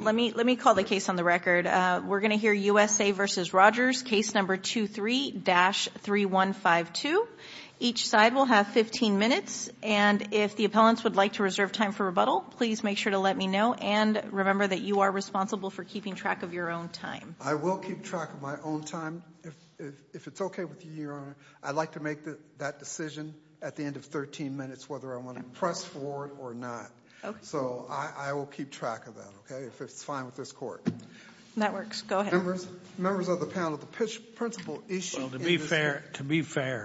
Let me call the case on the record. We're going to hear USA v. Rogers, case number 23-3152. Each side will have 15 minutes, and if the appellants would like to reserve time for rebuttal, please make sure to let me know, and remember that you are responsible for keeping track of your own time. I will keep track of my own time. If it's okay with you, Your Honor, I'd like to make that decision at the end of 13 minutes, whether I want to press for it or not. So I will keep track of that, okay, if it's fine with this Court. Members of the panel, the principal issue is... Well, to be fair,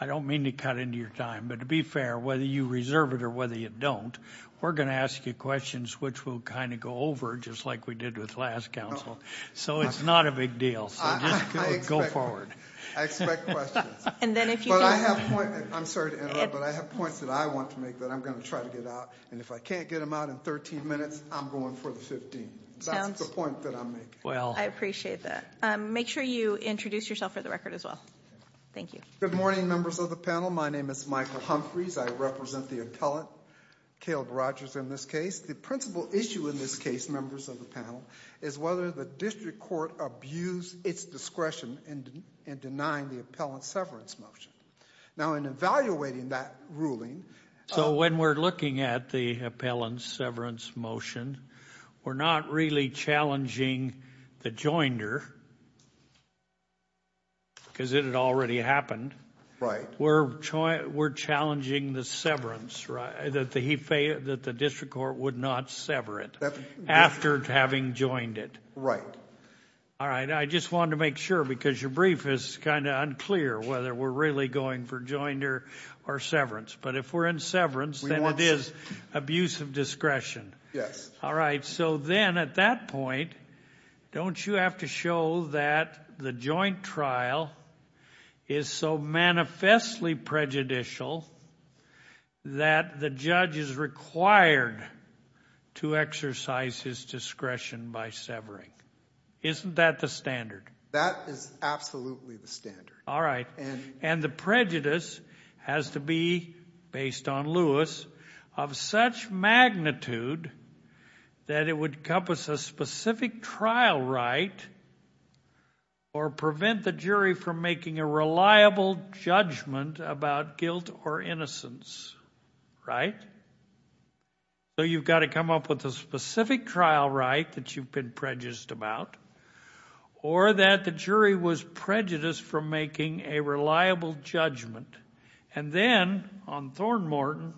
I don't mean to cut into your time, but to be fair, whether you reserve it or whether you don't, we're going to ask you questions which will kind of go over just like we did with last counsel. So it's not a big deal. So just go forward. I expect questions. I'm sorry to interrupt, but I have points that I want to make that I'm going to try to get out, and if I can't get them out in 13 minutes, I'm going for the 15. That's the point that I'm making. I appreciate that. Make sure you introduce yourself for the record as well. Thank you. Good morning, members of the panel. My name is Michael Humphreys. I represent the appellant, Caleb Rogers, in this case. The principal issue in this case, members of the panel, is whether the district court abused its discretion in denying the appellant's severance motion. Now, in evaluating that ruling... So when we're looking at the appellant's severance motion, we're not really challenging the joinder because it had already happened. Right. We're challenging the severance, that the district court would not sever it after having joined it. Right. All right. I just wanted to make sure because your brief is kind of unclear whether we're going for joinder or severance. But if we're in severance, then it is abuse of discretion. Yes. All right. So then at that point, don't you have to show that the joint trial is so manifestly prejudicial that the judge is required to exercise his discretion by severing? Isn't that the standard? That is absolutely the standard. All right. And the prejudice has to be, based on Lewis, of such magnitude that it would encompass a specific trial right or prevent the jury from making a reliable judgment about guilt or innocence. Right? So you've got to come up with a specific trial right that you've prejudiced about or that the jury was prejudiced from making a reliable judgment. And then on Thorn Morton,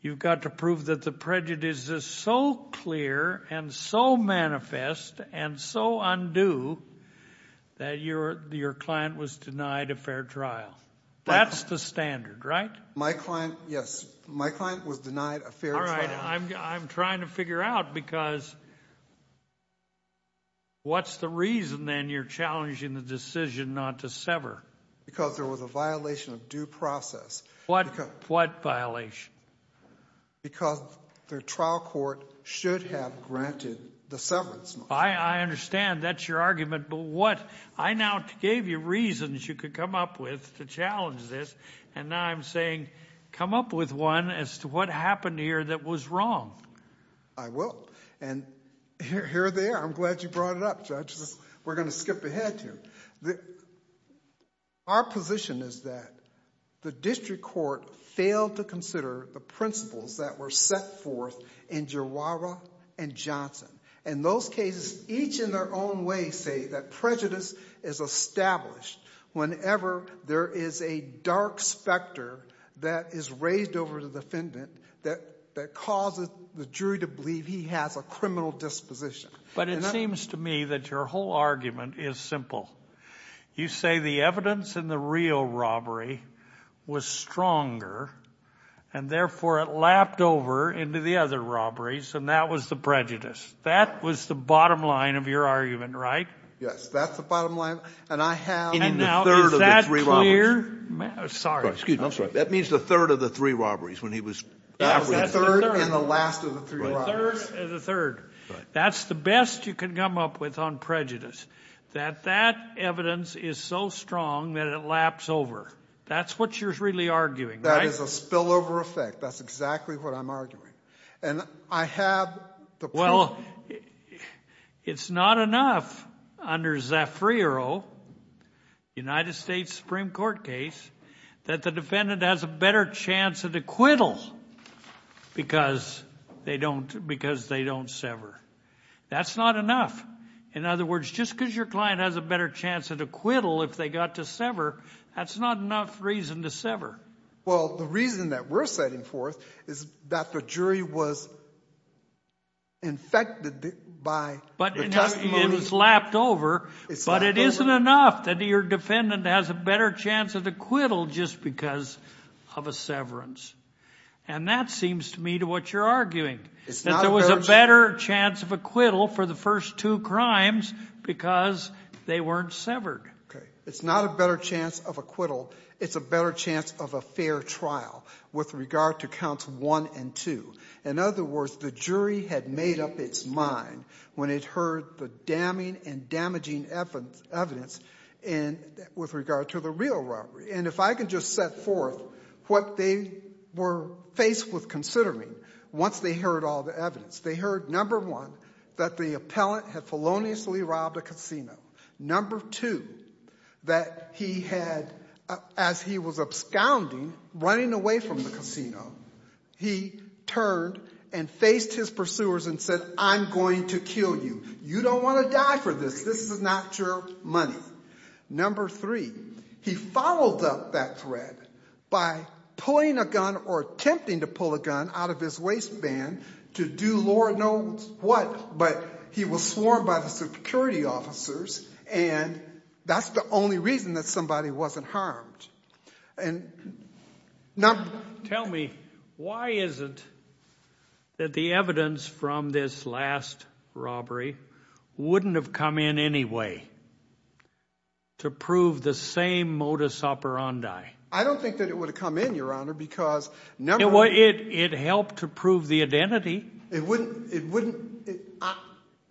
you've got to prove that the prejudice is so clear and so manifest and so undue that your client was denied a fair trial. That's the standard, right? My client, yes. My client was denied a fair trial. All right. I'm trying to figure out because what's the reason then you're challenging the decision not to sever? Because there was a violation of due process. What violation? Because the trial court should have granted the severance. I understand. That's your argument. But what? I now gave you reasons you could come up with to challenge this, and now I'm saying come up with one as to what happened here that was wrong. I will. And here they are. I'm glad you brought it up, Judge. We're going to skip ahead here. Our position is that the district court failed to consider the principles that were set forth in Giroiro and Johnson. And those cases, each in their own way, say that prejudice is established whenever there is a dark specter that is raised over the defendant that causes the jury to believe he has a criminal disposition. But it seems to me that your whole argument is simple. You say the evidence in the Rio robbery was stronger, and therefore it lapped over into the other robberies, and that was the prejudice. That was the bottom line of your argument, right? Yes, that's the bottom line. And I have the third of the three robberies. And now, is that clear? Sorry. Excuse me. I'm sorry. That means the third of the three robberies, when he was... That was the third and the last of the three robberies. The third and the third. That's the best you can come up with on prejudice, that that evidence is so strong that it laps over. That's what you're really arguing, right? That is a spillover effect. That's exactly what I'm arguing. And I have the... Well, it's not enough under Zafriero, United States Supreme Court case, that the defendant has a better chance at acquittal because they don't sever. That's not enough. In other words, just because your client has a better chance at acquittal if they got to sever, that's not enough reason to sever. Well, the reason that we're setting forth is that the jury was infected by... But it's lapped over, but it isn't enough that your defendant has a better chance at acquittal just because of a severance. And that seems to me to what you're arguing, that there was a better chance of acquittal for the first two crimes because they weren't severed. Okay. It's not a better chance of acquittal. It's a better chance of a fair trial with regard to counts one and two. In other words, the jury had made up its mind when it heard the damning and damaging evidence with regard to the real robbery. And if I could just set forth what they were faced with considering once they heard all the evidence. They heard, number one, that the appellant had feloniously robbed a casino. Number two, that he had, as he was absconding, running away from the casino, he turned and faced his pursuers and said, I'm going to kill you. You don't want to die for this. This is not your money. Number three, he followed up that thread by pulling a gun or attempting to pull a gun out of his waistband to do Lord knows what, but he was sworn by the security officers. And that's the only reason that somebody wasn't harmed. Tell me, why is it that the evidence from this last robbery wouldn't have come in any way to prove the same modus operandi? I don't think that it would have come in, Your Honor, because never... It helped to prove the identity. It wouldn't...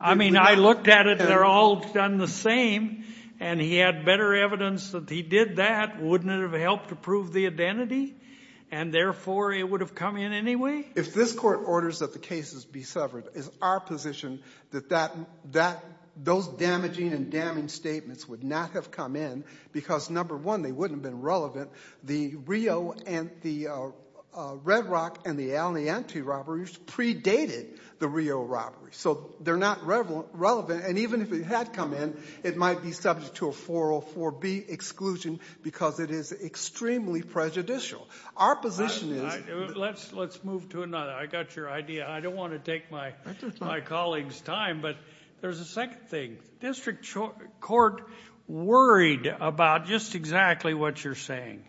I mean, I looked at it, they're all done the same, and he had better evidence that he did that. Wouldn't it have helped to prove the identity? And therefore, it would have come in anyway? If this court orders that the cases be covered, is our position that those damaging and damning statements would not have come in because, number one, they wouldn't have been relevant. The Rio and the Red Rock and the Alianti robberies predated the Rio robbery. So they're not relevant. And even if it had come in, it might be subject to a 404B exclusion because it is extremely prejudicial. Our position is... Let's move to another. I got your idea. I don't want to take my colleagues' time, but there's a second thing. District Court worried about just exactly what you're saying,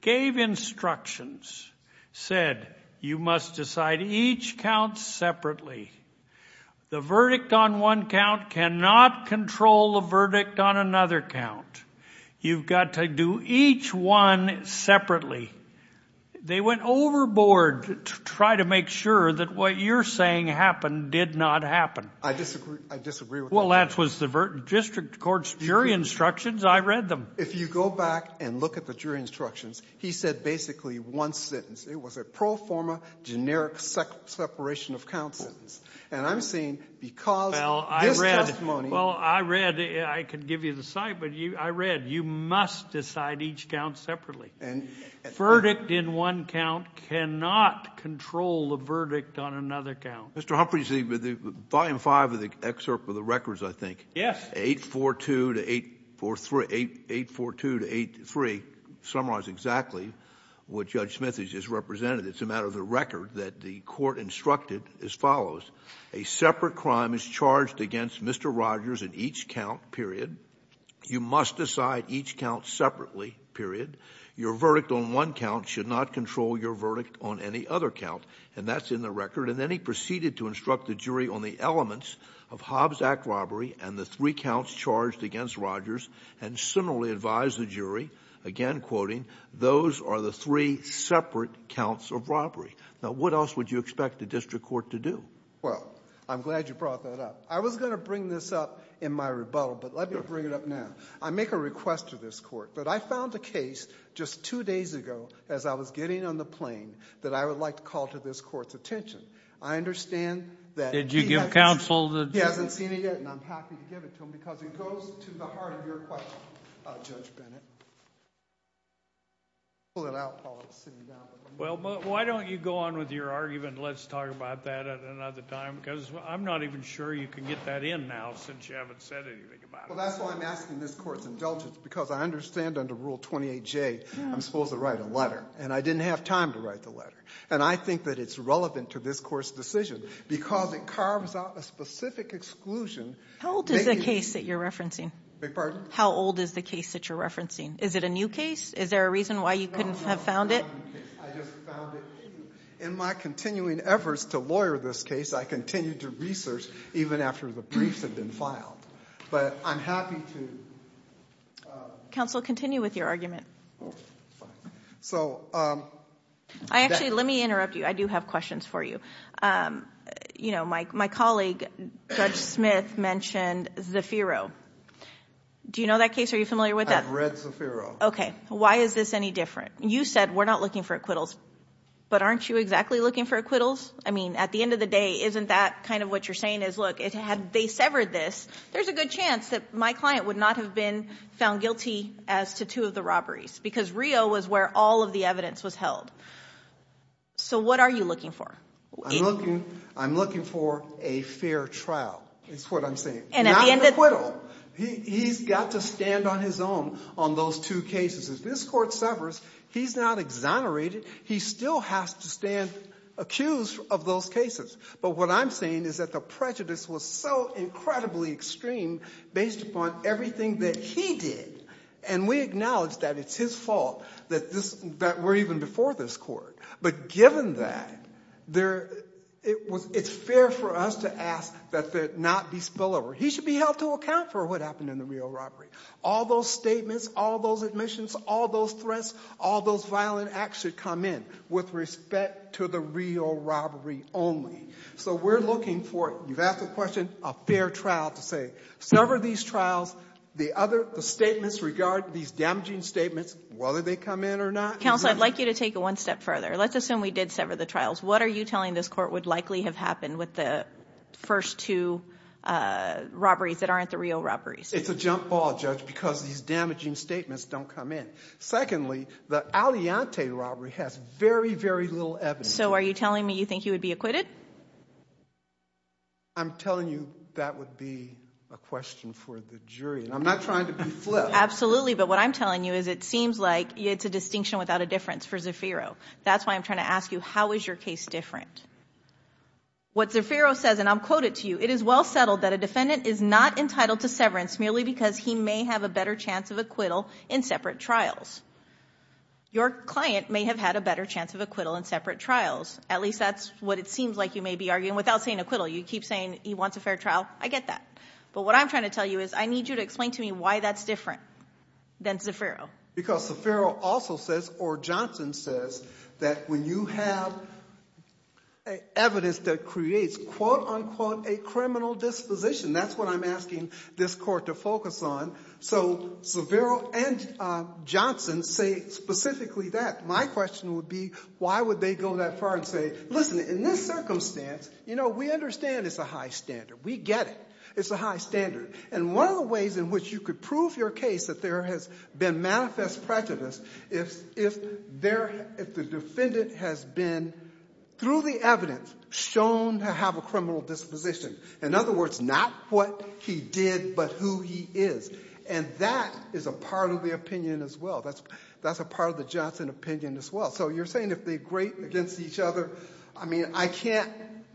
gave instructions, said, you must decide each count separately. The verdict on one count cannot control the verdict on another count. You've got to do each one separately. They went overboard to try to make sure that what you're saying happened did not happen. I disagree. I disagree with that. Well, that was the District Court's jury instructions. I read them. If you go back and look at the jury instructions, he said basically one sentence. It was a pro forma, generic separation of counts sentence. And I'm saying because this testimony... Well, I read, I can give you the site, but I read, you must decide each count separately. Verdict in one count cannot control the verdict on another count. Mr. Humphrey, volume five of the excerpt of the records, I think. Yes. 842 to 843, 842 to 83, summarize exactly what Judge Smith has just represented. It's a matter of the record that the court instructed as follows. A separate crime is charged against Mr. Rogers in each count, period. You must decide each count separately, period. Your verdict on one count should not control your verdict on any other count. And that's in the record. And then he proceeded to instruct the jury on the elements of Hobbs Act robbery and the three counts charged against Rogers and similarly advised the jury, again, quoting, those are the three separate counts of robbery. Now, what else would you expect the district court to do? Well, I'm glad you brought that up. I was going to bring this up in my rebuttal, but let me bring it up now. I make a request to this court that I found a case just two days ago as I was getting on the plane that I would like to call to this court's attention. I understand that... Did you give counsel the... He hasn't seen it yet and I'm happy to give it to him because it goes to the heart of your question, Judge Bennett. Pull it out while I'm sitting down. Well, why don't you go on with your argument and let's talk about that at another time because I'm not even sure you can get that in now since you haven't said anything about it. Well, that's why I'm asking this court's indulgence because I understand under Rule 28J I'm supposed to write a letter and I didn't have time to write the letter. And I think that it's relevant to this court's decision because it carves out a specific exclusion... How old is the case that you're referencing? Beg your pardon? How old is the case that you're referencing? Is it a new case? Is there a reason why you couldn't have found it? No, no. I just found it. In my continuing efforts to lawyer this case, I continue to research even after the briefs have been filed. But I'm happy to... Counsel, continue with your argument. So... I actually... Let me interrupt you. I do have questions for you. You know, my colleague, Judge Smith, mentioned Zafiro. Do you know that case? Are you familiar with that? I've read Zafiro. Okay. Why is this any different? You said we're not looking for acquittals, but aren't you exactly looking for acquittals? I mean, at the end of the day, isn't that kind of what you're saying is, look, if they severed this, there's a good chance that my client would not have been found guilty as to two of the robberies because Rio was where all of the evidence was held. So what are you looking for? I'm looking for a fair trial, is what I'm saying. Not an acquittal. He's got to stand on his own on those two cases. If this court severs, he's not exonerated. He still has to stand accused of those cases. But what I'm saying is that the prejudice was so incredibly extreme based upon everything that he did. And we acknowledge that it's his fault that we're even before this court. But given that, it's fair for us to ask that there not be spillover. He should be held to account for what happened in the Rio robbery. All those statements, all those admissions, all those threats, all those violent acts should come in with respect to the Rio robbery only. So we're looking for, you've asked the question, a fair trial to say, sever these trials. The statements regard these damaging statements, whether they come in or not. Counsel, I'd like you to take it one step further. Let's assume we did sever the trials. What are you telling this court would likely have happened with the first two robberies that aren't the Rio robberies? It's a jump ball, Judge, because these damaging statements don't come in. Secondly, the Alleante robbery has very, very little evidence. So are you telling me you think he would be acquitted? I'm telling you that would be a question for the jury. I'm not trying to be flip. Absolutely. But what I'm telling you is it seems like it's a distinction without a difference for Zafiro. That's why I'm trying to ask you, how is your case different? What Zafiro says, and I'll quote it to you, it is well settled that a defendant is not entitled to severance merely because he may have a better chance of acquittal in separate trials. Your client may have had a better chance of acquittal in separate trials. At least that's what it seems like you may be arguing without saying acquittal. You keep saying he wants a fair trial. I get that. But what I'm trying to tell you is I need you to explain to me why that's different than Zafiro. Because Zafiro also says, or Johnson says, that when you have evidence that creates, quote unquote, a criminal disposition, that's what I'm asking this court to focus on. So Zafiro and Johnson say specifically that. My question would be, why would they go that far and say, listen, in this circumstance, you know, we understand it's a high standard. We get it. It's a high standard. And one of the ways in which you could prove your case that there has been manifest prejudice is if the defendant has been, through the evidence, shown to have a criminal disposition. In other words, not what he did, but who he is. And that is a part of the opinion as well. That's a part of the Johnson opinion as well. So you're saying if they grate against each other, I mean, I can't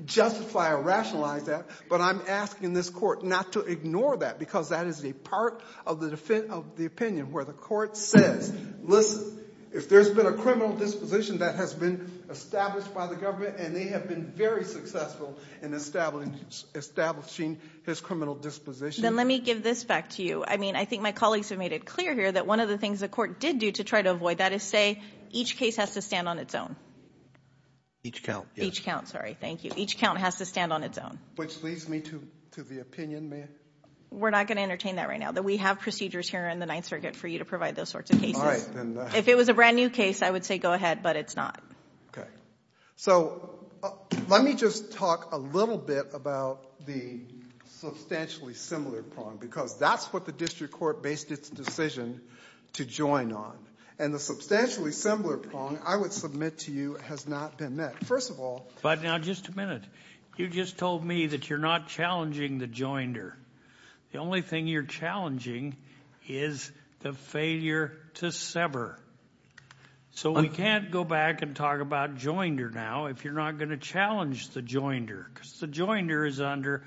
justify or rationalize that. But I'm asking this court not to ignore that because that is a part of the opinion where the court says, listen, if there's been a criminal disposition that has been established by the government and they have been very successful in establishing his criminal disposition. Then let me give this back to you. I mean, I think my colleagues have made it clear here that one of the things the court did do to avoid that is say each case has to stand on its own. Each count. Each count, sorry. Thank you. Each count has to stand on its own. Which leads me to the opinion, ma'am. We're not going to entertain that right now, that we have procedures here in the Ninth Circuit for you to provide those sorts of cases. If it was a brand new case, I would say go ahead, but it's not. Okay. So let me just talk a little bit about the substantially similar problem because that's what the district court based its decision to join on. And the substantially similar problem, I would submit to you, has not been met. First of all. But now just a minute. You just told me that you're not challenging the joinder. The only thing you're challenging is the failure to sever. So we can't go back and talk about joinder now if you're not going to challenge the joinder because the joinder is under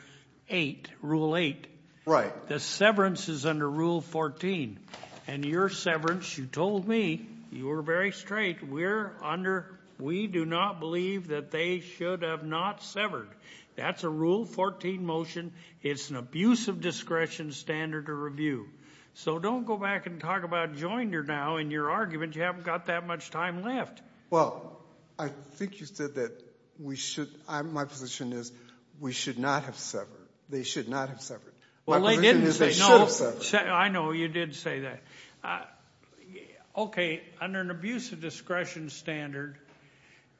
eight, rule eight. Right. The severance is under rule 14. And your severance, you told me, you were very straight. We're under, we do not believe that they should have not severed. That's a rule 14 motion. It's an abuse of discretion standard to review. So don't go back and talk about joinder now in your argument. You haven't got that much time left. Well, I think you said that we should, my position is we should not have severed. They should not have severed. My position is they should have severed. I know you did say that. Okay. Under an abuse of discretion standard,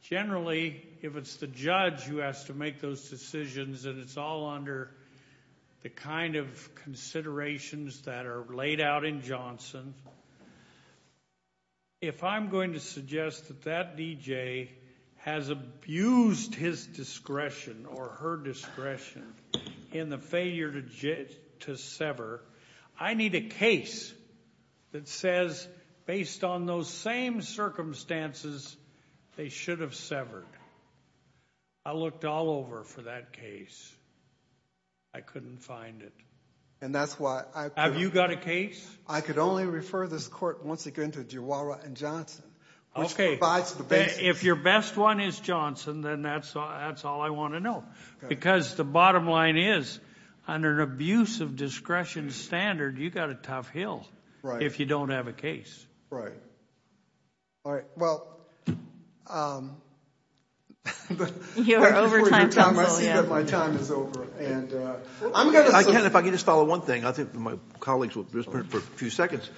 generally, if it's the judge who has to make those decisions and it's all under the kind of considerations that are laid out in Johnson, Johnson, if I'm going to suggest that that DJ has abused his discretion or her discretion in the failure to sever, I need a case that says based on those same circumstances, they should have severed. I looked all over for that case. I couldn't find it. And that's why I have you got a case. I could only refer this court once again to Jawara and Johnson. Okay. If your best one is Johnson, then that's, that's all I want to know because the bottom line is under an abuse of discretion standard, you got a tough hill if you don't have a case. Right. All right. Well, I see that my time is over and I'm going to, if I can just follow one thing, I think my colleagues will just print for a few seconds.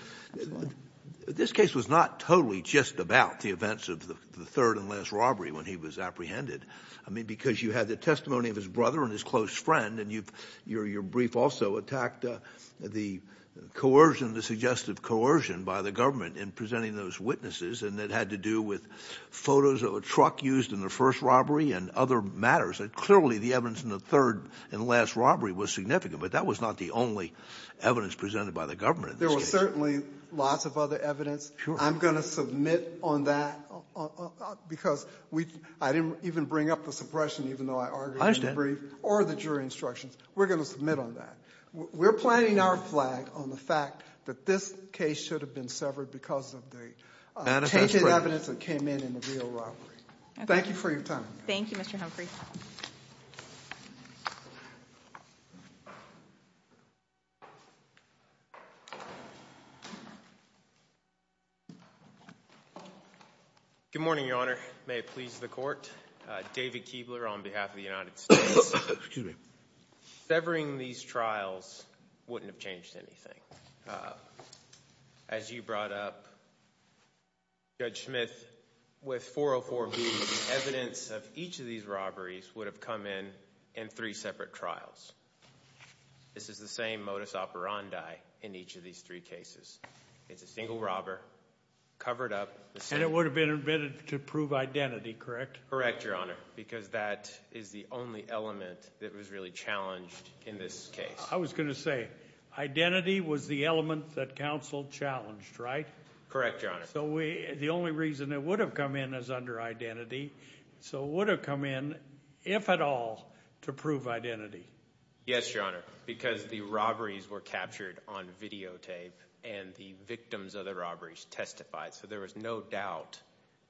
This case was not totally just about the events of the third and last robbery when he was apprehended. I mean, because you had the testimony of his brother and his close friend and you've, your, your brief also attacked the coercion, the suggestive coercion by the government in presenting those witnesses. And that had to do with photos of a truck used in the first robbery and other matters that clearly the evidence in the third and last robbery was significant, but that was not the only evidence presented by the government. There was certainly lots of other evidence. I'm going to submit on that because we, I didn't even bring up the suppression, even though I argued in the brief or the jury instructions. We're going to submit on that. We're planting our flag on the fact that this case should have been severed because of the evidence that came in in the real robbery. Thank you for your time. Thank you, Mr. Humphrey. Good morning, Your Honor. May it please the court. David Keebler on behalf of the United States. Severing these trials wouldn't have changed anything. As you brought up, Judge Smith, with 404B, evidence of each of these robberies would have come in in three separate trials. This is the same modus operandi in each of these three cases. It's a single robber covered up. And it would have been admitted to prove identity, correct? Correct, Your Honor, because that is the only element that was really challenged in this case. I was going to say identity was the element that counsel challenged, right? Correct, Your Honor. The only reason it would have come in is under identity. So it would have come in, if at all, to prove identity. Yes, Your Honor, because the robberies were captured on videotape, and the victims of the robberies testified. So there was no doubt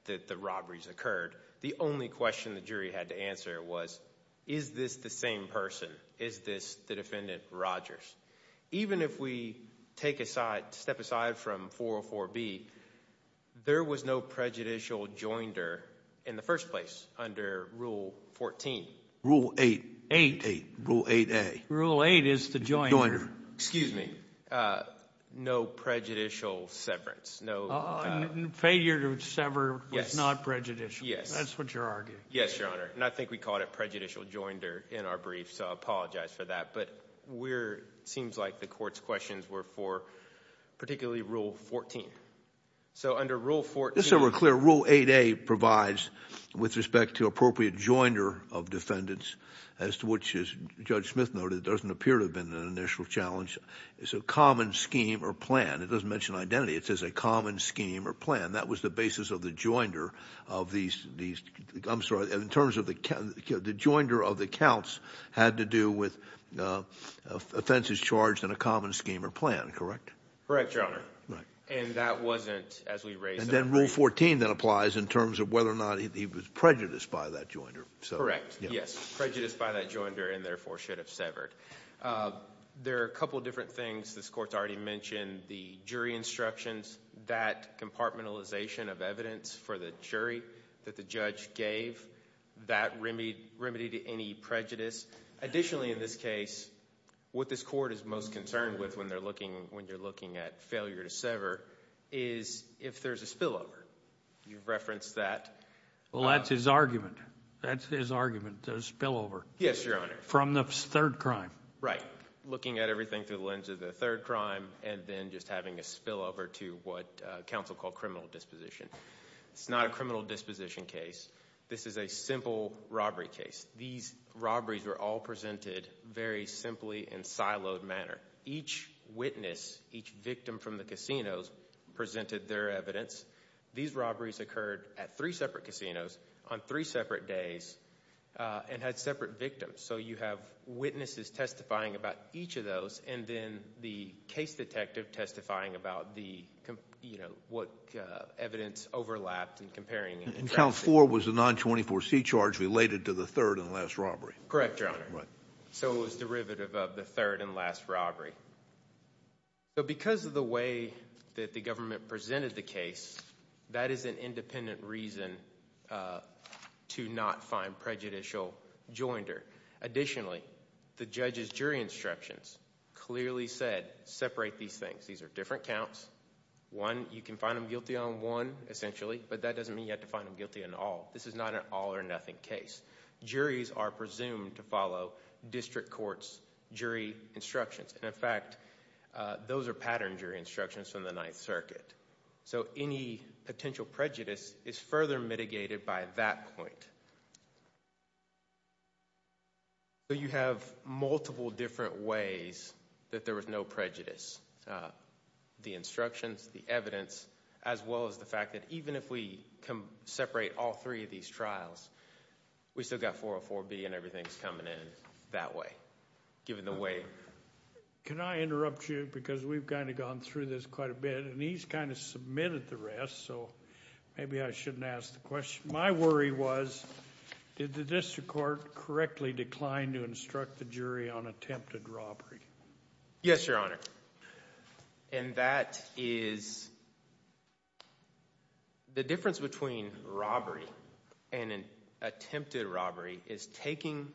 that the robberies occurred. The only question the jury had to answer was, is this the same person? Is this the defendant Rogers? Even if we step aside from 404B, there was no prejudicial joinder in the first place, under Rule 14. Rule 8. 8. Rule 8A. Rule 8 is the joinder. Excuse me. No prejudicial severance. Failure to sever was not prejudicial. Yes. That's what you're arguing. Yes, Your Honor. And I think we called it prejudicial joinder in our brief, so I apologize for that. But it seems like the court's questions were for particularly Rule 14. So under Rule 14— Just so we're clear, Rule 8A provides, with respect to appropriate joinder of defendants, as to which, as Judge Smith noted, doesn't appear to have been an initial challenge, is a common scheme or plan. It doesn't mention identity. It says a common scheme or plan. That was the basis of the joinder of these—I'm sorry, in terms of the joinder of the counts had to do with offenses charged in a common scheme or plan, correct? Correct, Your Honor. And that wasn't, as we raised— And then Rule 14 then applies in terms of whether or not he was prejudiced by that joinder. Correct. Yes. Prejudiced by that joinder and therefore should have severed. There are a couple different things this Court's already mentioned. The jury instructions, that compartmentalization of evidence for the jury that the judge gave, that remedied any prejudice. Additionally in this case, what this Court is most concerned with when you're looking at failure to sever is if there's a spillover. You've referenced that. Well, that's his argument. That's his argument, a spillover. Yes, Your Honor. From the third crime. Right. Looking at everything through the lens of the third crime and then just having a spillover to what counsel called criminal disposition. It's not a criminal disposition case. This is a simple robbery case. These robberies were all presented very simply in siloed manner. Each witness, each victim from the casinos presented their evidence. These robberies occurred at three separate casinos on three separate days and had separate victims. So you have witnesses testifying about each of those and then the case detective testifying about what evidence overlapped and comparing it. Count four was a 924c charge related to the third and last robbery. Correct, Your Honor. So it was derivative of the third and last robbery. Because of the way that the government presented the case, that is an independent reason to not find prejudicial joinder. Additionally, the judge's jury instructions clearly said, separate these things. These are different counts. One, you can find them guilty on one, but that doesn't mean you have to find them guilty on all. This is not an all or nothing case. Juries are presumed to follow district court's jury instructions. In fact, those are pattern jury instructions from the Ninth Circuit. So any potential prejudice is further mitigated by that point. You have multiple different ways that there was no prejudice. The instructions, the evidence, as well as the fact that even if we separate all three of these trials, we still got 404B and everything's coming in that way, given the way. Can I interrupt you? Because we've kind of gone through this quite a bit and he's kind of submitted the rest. So maybe I shouldn't ask the question. My worry was, did the district court correctly decline to instruct the jury on attempted robbery? Yes, Your Honor. And that is the difference between robbery and an attempted robbery is taking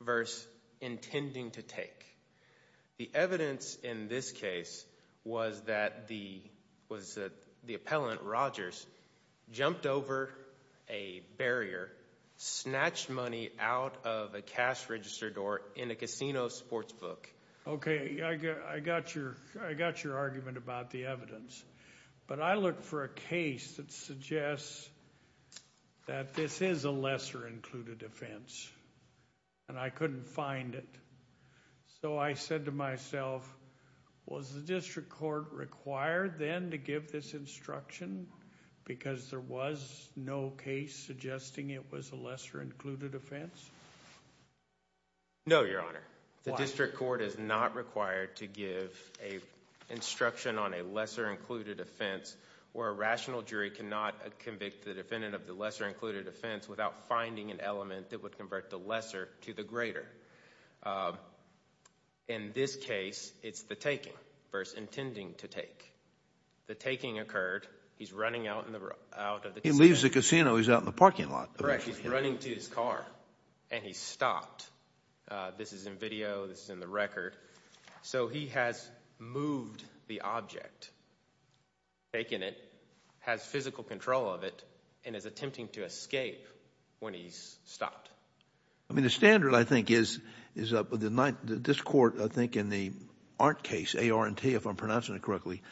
versus intending to take. The evidence in this case was that the appellant, Rogers, jumped over a barrier, snatched money out of a cash register door in a casino sports book. Okay. I got your argument about the evidence, but I look for a case that suggests that this is a lesser included offense and I couldn't find it. So I said to myself, was the district court required then to give this instruction because there was no case suggesting it was a lesser included offense? No, Your Honor. The district court is not required to give an instruction on a lesser included offense where a rational jury cannot convict the defendant of the lesser included offense without finding an element that would convert the lesser to the greater. In this case, it's the taking versus intending to take. The taking occurred, he's running out of the casino. He leaves the casino, he's out in the parking lot. Correct. He's running to his car and he stopped. This is in video, this is in the record. So he has moved the object, taken it, has physical control of it, and is attempting to escape when he's stopped. I mean, the standard, I think, is that this court, I think, in the Arndt case, A-R-N-T, if I'm pronouncing it correctly,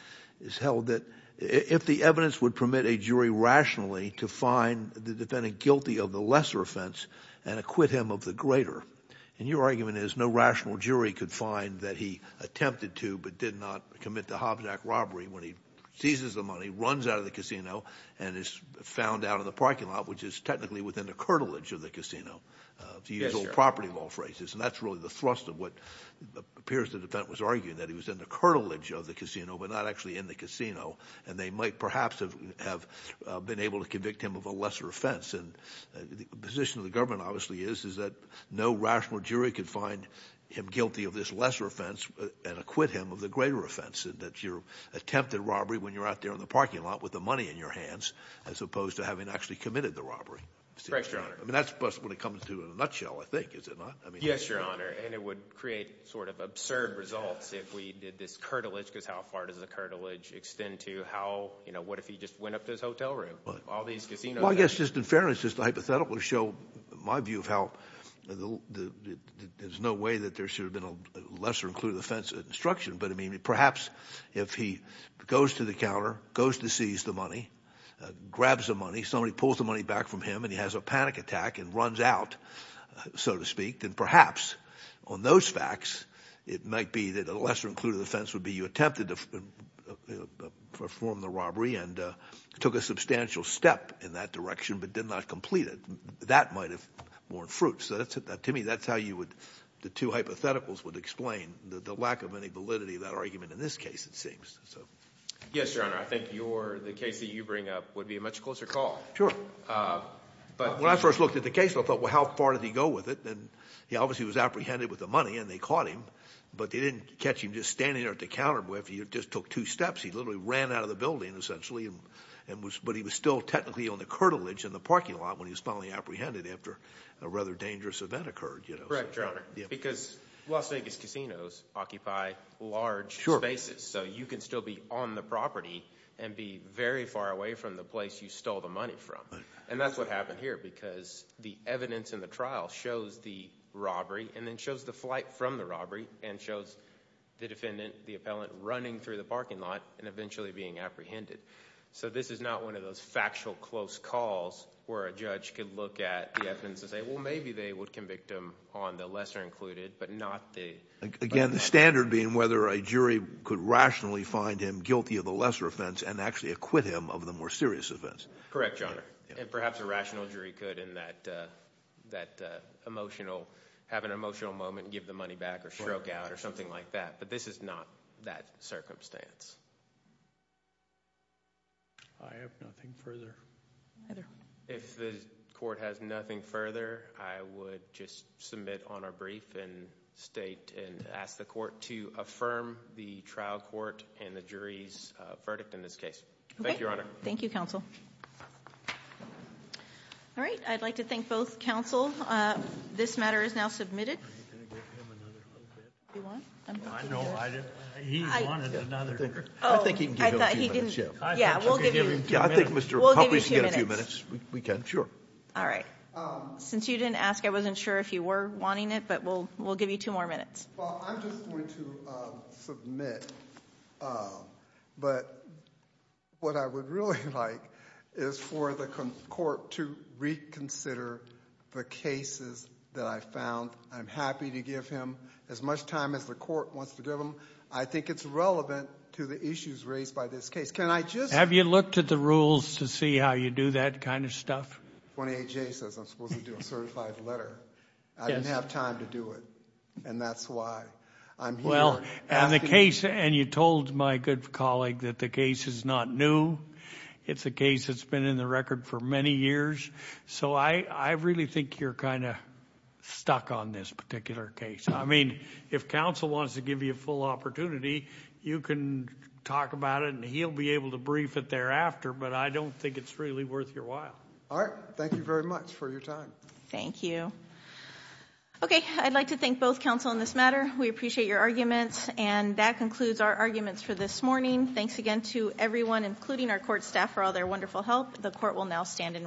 is held that if the evidence would permit a jury rationally to find the defendant guilty of the lesser offense and acquit him of the greater, and your argument is no rational jury could find that he attempted to but did not commit the Hobnock robbery when he seizes the money, runs out of the casino, and is found out in the parking lot, which is technically within the curtilage of the casino, the usual property law phrases, and that's really the thrust of what appears the actually in the casino, and they might perhaps have been able to convict him of a lesser offense, and the position of the government, obviously, is that no rational jury could find him guilty of this lesser offense and acquit him of the greater offense, and that your attempted robbery when you're out there in the parking lot with the money in your hands, as opposed to having actually committed the robbery. Correct, Your Honor. I mean, that's what it comes to in a nutshell, I think, is it not? Yes, Your Honor, and it would create sort of absurd results if we did this curtilage, because how far does the curtilage extend to? How, you know, what if he just went up to his hotel room? Well, I guess, just in fairness, just hypothetically show my view of how there's no way that there should have been a lesser included offense instruction, but I mean, perhaps if he goes to the counter, goes to seize the money, grabs the money, somebody pulls the money back from him, and he has a panic attack and runs out, so to speak, then perhaps on those facts it might be that a lesser included offense would be you attempted to perform the robbery and took a substantial step in that direction, but did not complete it. That might have borne fruit, so that's it. Now, Timmy, that's how you would, the two hypotheticals would explain the lack of any validity of that argument in this case, it seems. Yes, Your Honor, I think your, the case that you bring up would be a much closer call. Sure. But when I first looked at the case, I thought, well, how far did he go with it? And obviously he was apprehended with the money and they caught him, but they didn't catch him just standing there at the counter. He just took two steps. He literally ran out of the building, essentially, and was, but he was still technically on the curtilage in the parking lot when he was finally apprehended after a rather dangerous event occurred, you know. Correct, Your Honor, because Las Vegas casinos occupy large spaces, so you can still be on the property and be very far away from the place you stole the money from, and that's what happened here, because the evidence in the trial shows the robbery and then shows the flight from the robbery and shows the defendant, the appellant, running through the parking lot and eventually being apprehended. So this is not one of those factual close calls where a judge could look at the evidence and say, well, maybe they would convict him on the lesser included, but not the. Again, the standard being whether a jury could rationally find him guilty of the lesser offense and actually acquit him of the more serious offense. Correct, Your Honor, and perhaps a rational jury could in that emotional, have an emotional moment and give the money back or stroke out or something like that, but this is not that circumstance. I have nothing further. If the court has nothing further, I would just submit on our brief and state and ask the court to affirm the trial court and the jury's verdict in this case. Thank you, Your Honor. Thank you, counsel. All right, I'd like to thank both counsel. This matter is now submitted. Since you didn't ask, I wasn't sure if you were wanting it, but we'll give you two more minutes. I'm just going to submit, but what I would really like is for the court to reconsider the cases that I found. I'm happy to give him as much time as the court wants to give him. I think it's relevant to the issues raised by this case. Have you looked at the rules to see how you do that kind of stuff? 28J says I'm supposed to do a certified letter. I didn't have time to do it, and that's why I'm here. Well, and you told my good colleague that the case is not new. It's a case that's been in the record for many years, so I really think you're kind of stuck on this particular case. I mean, if counsel wants to give you a full opportunity, you can talk about it, and he'll be able to brief it thereafter, but I don't think it's really worth your while. All right. Thank you very much for your time. Thank you. Okay. I'd like to thank both counsel in this matter. We appreciate your arguments, and that concludes our arguments for this morning. Thanks again to everyone, including our court staff, for all their wonderful help. The court will now stand in recess.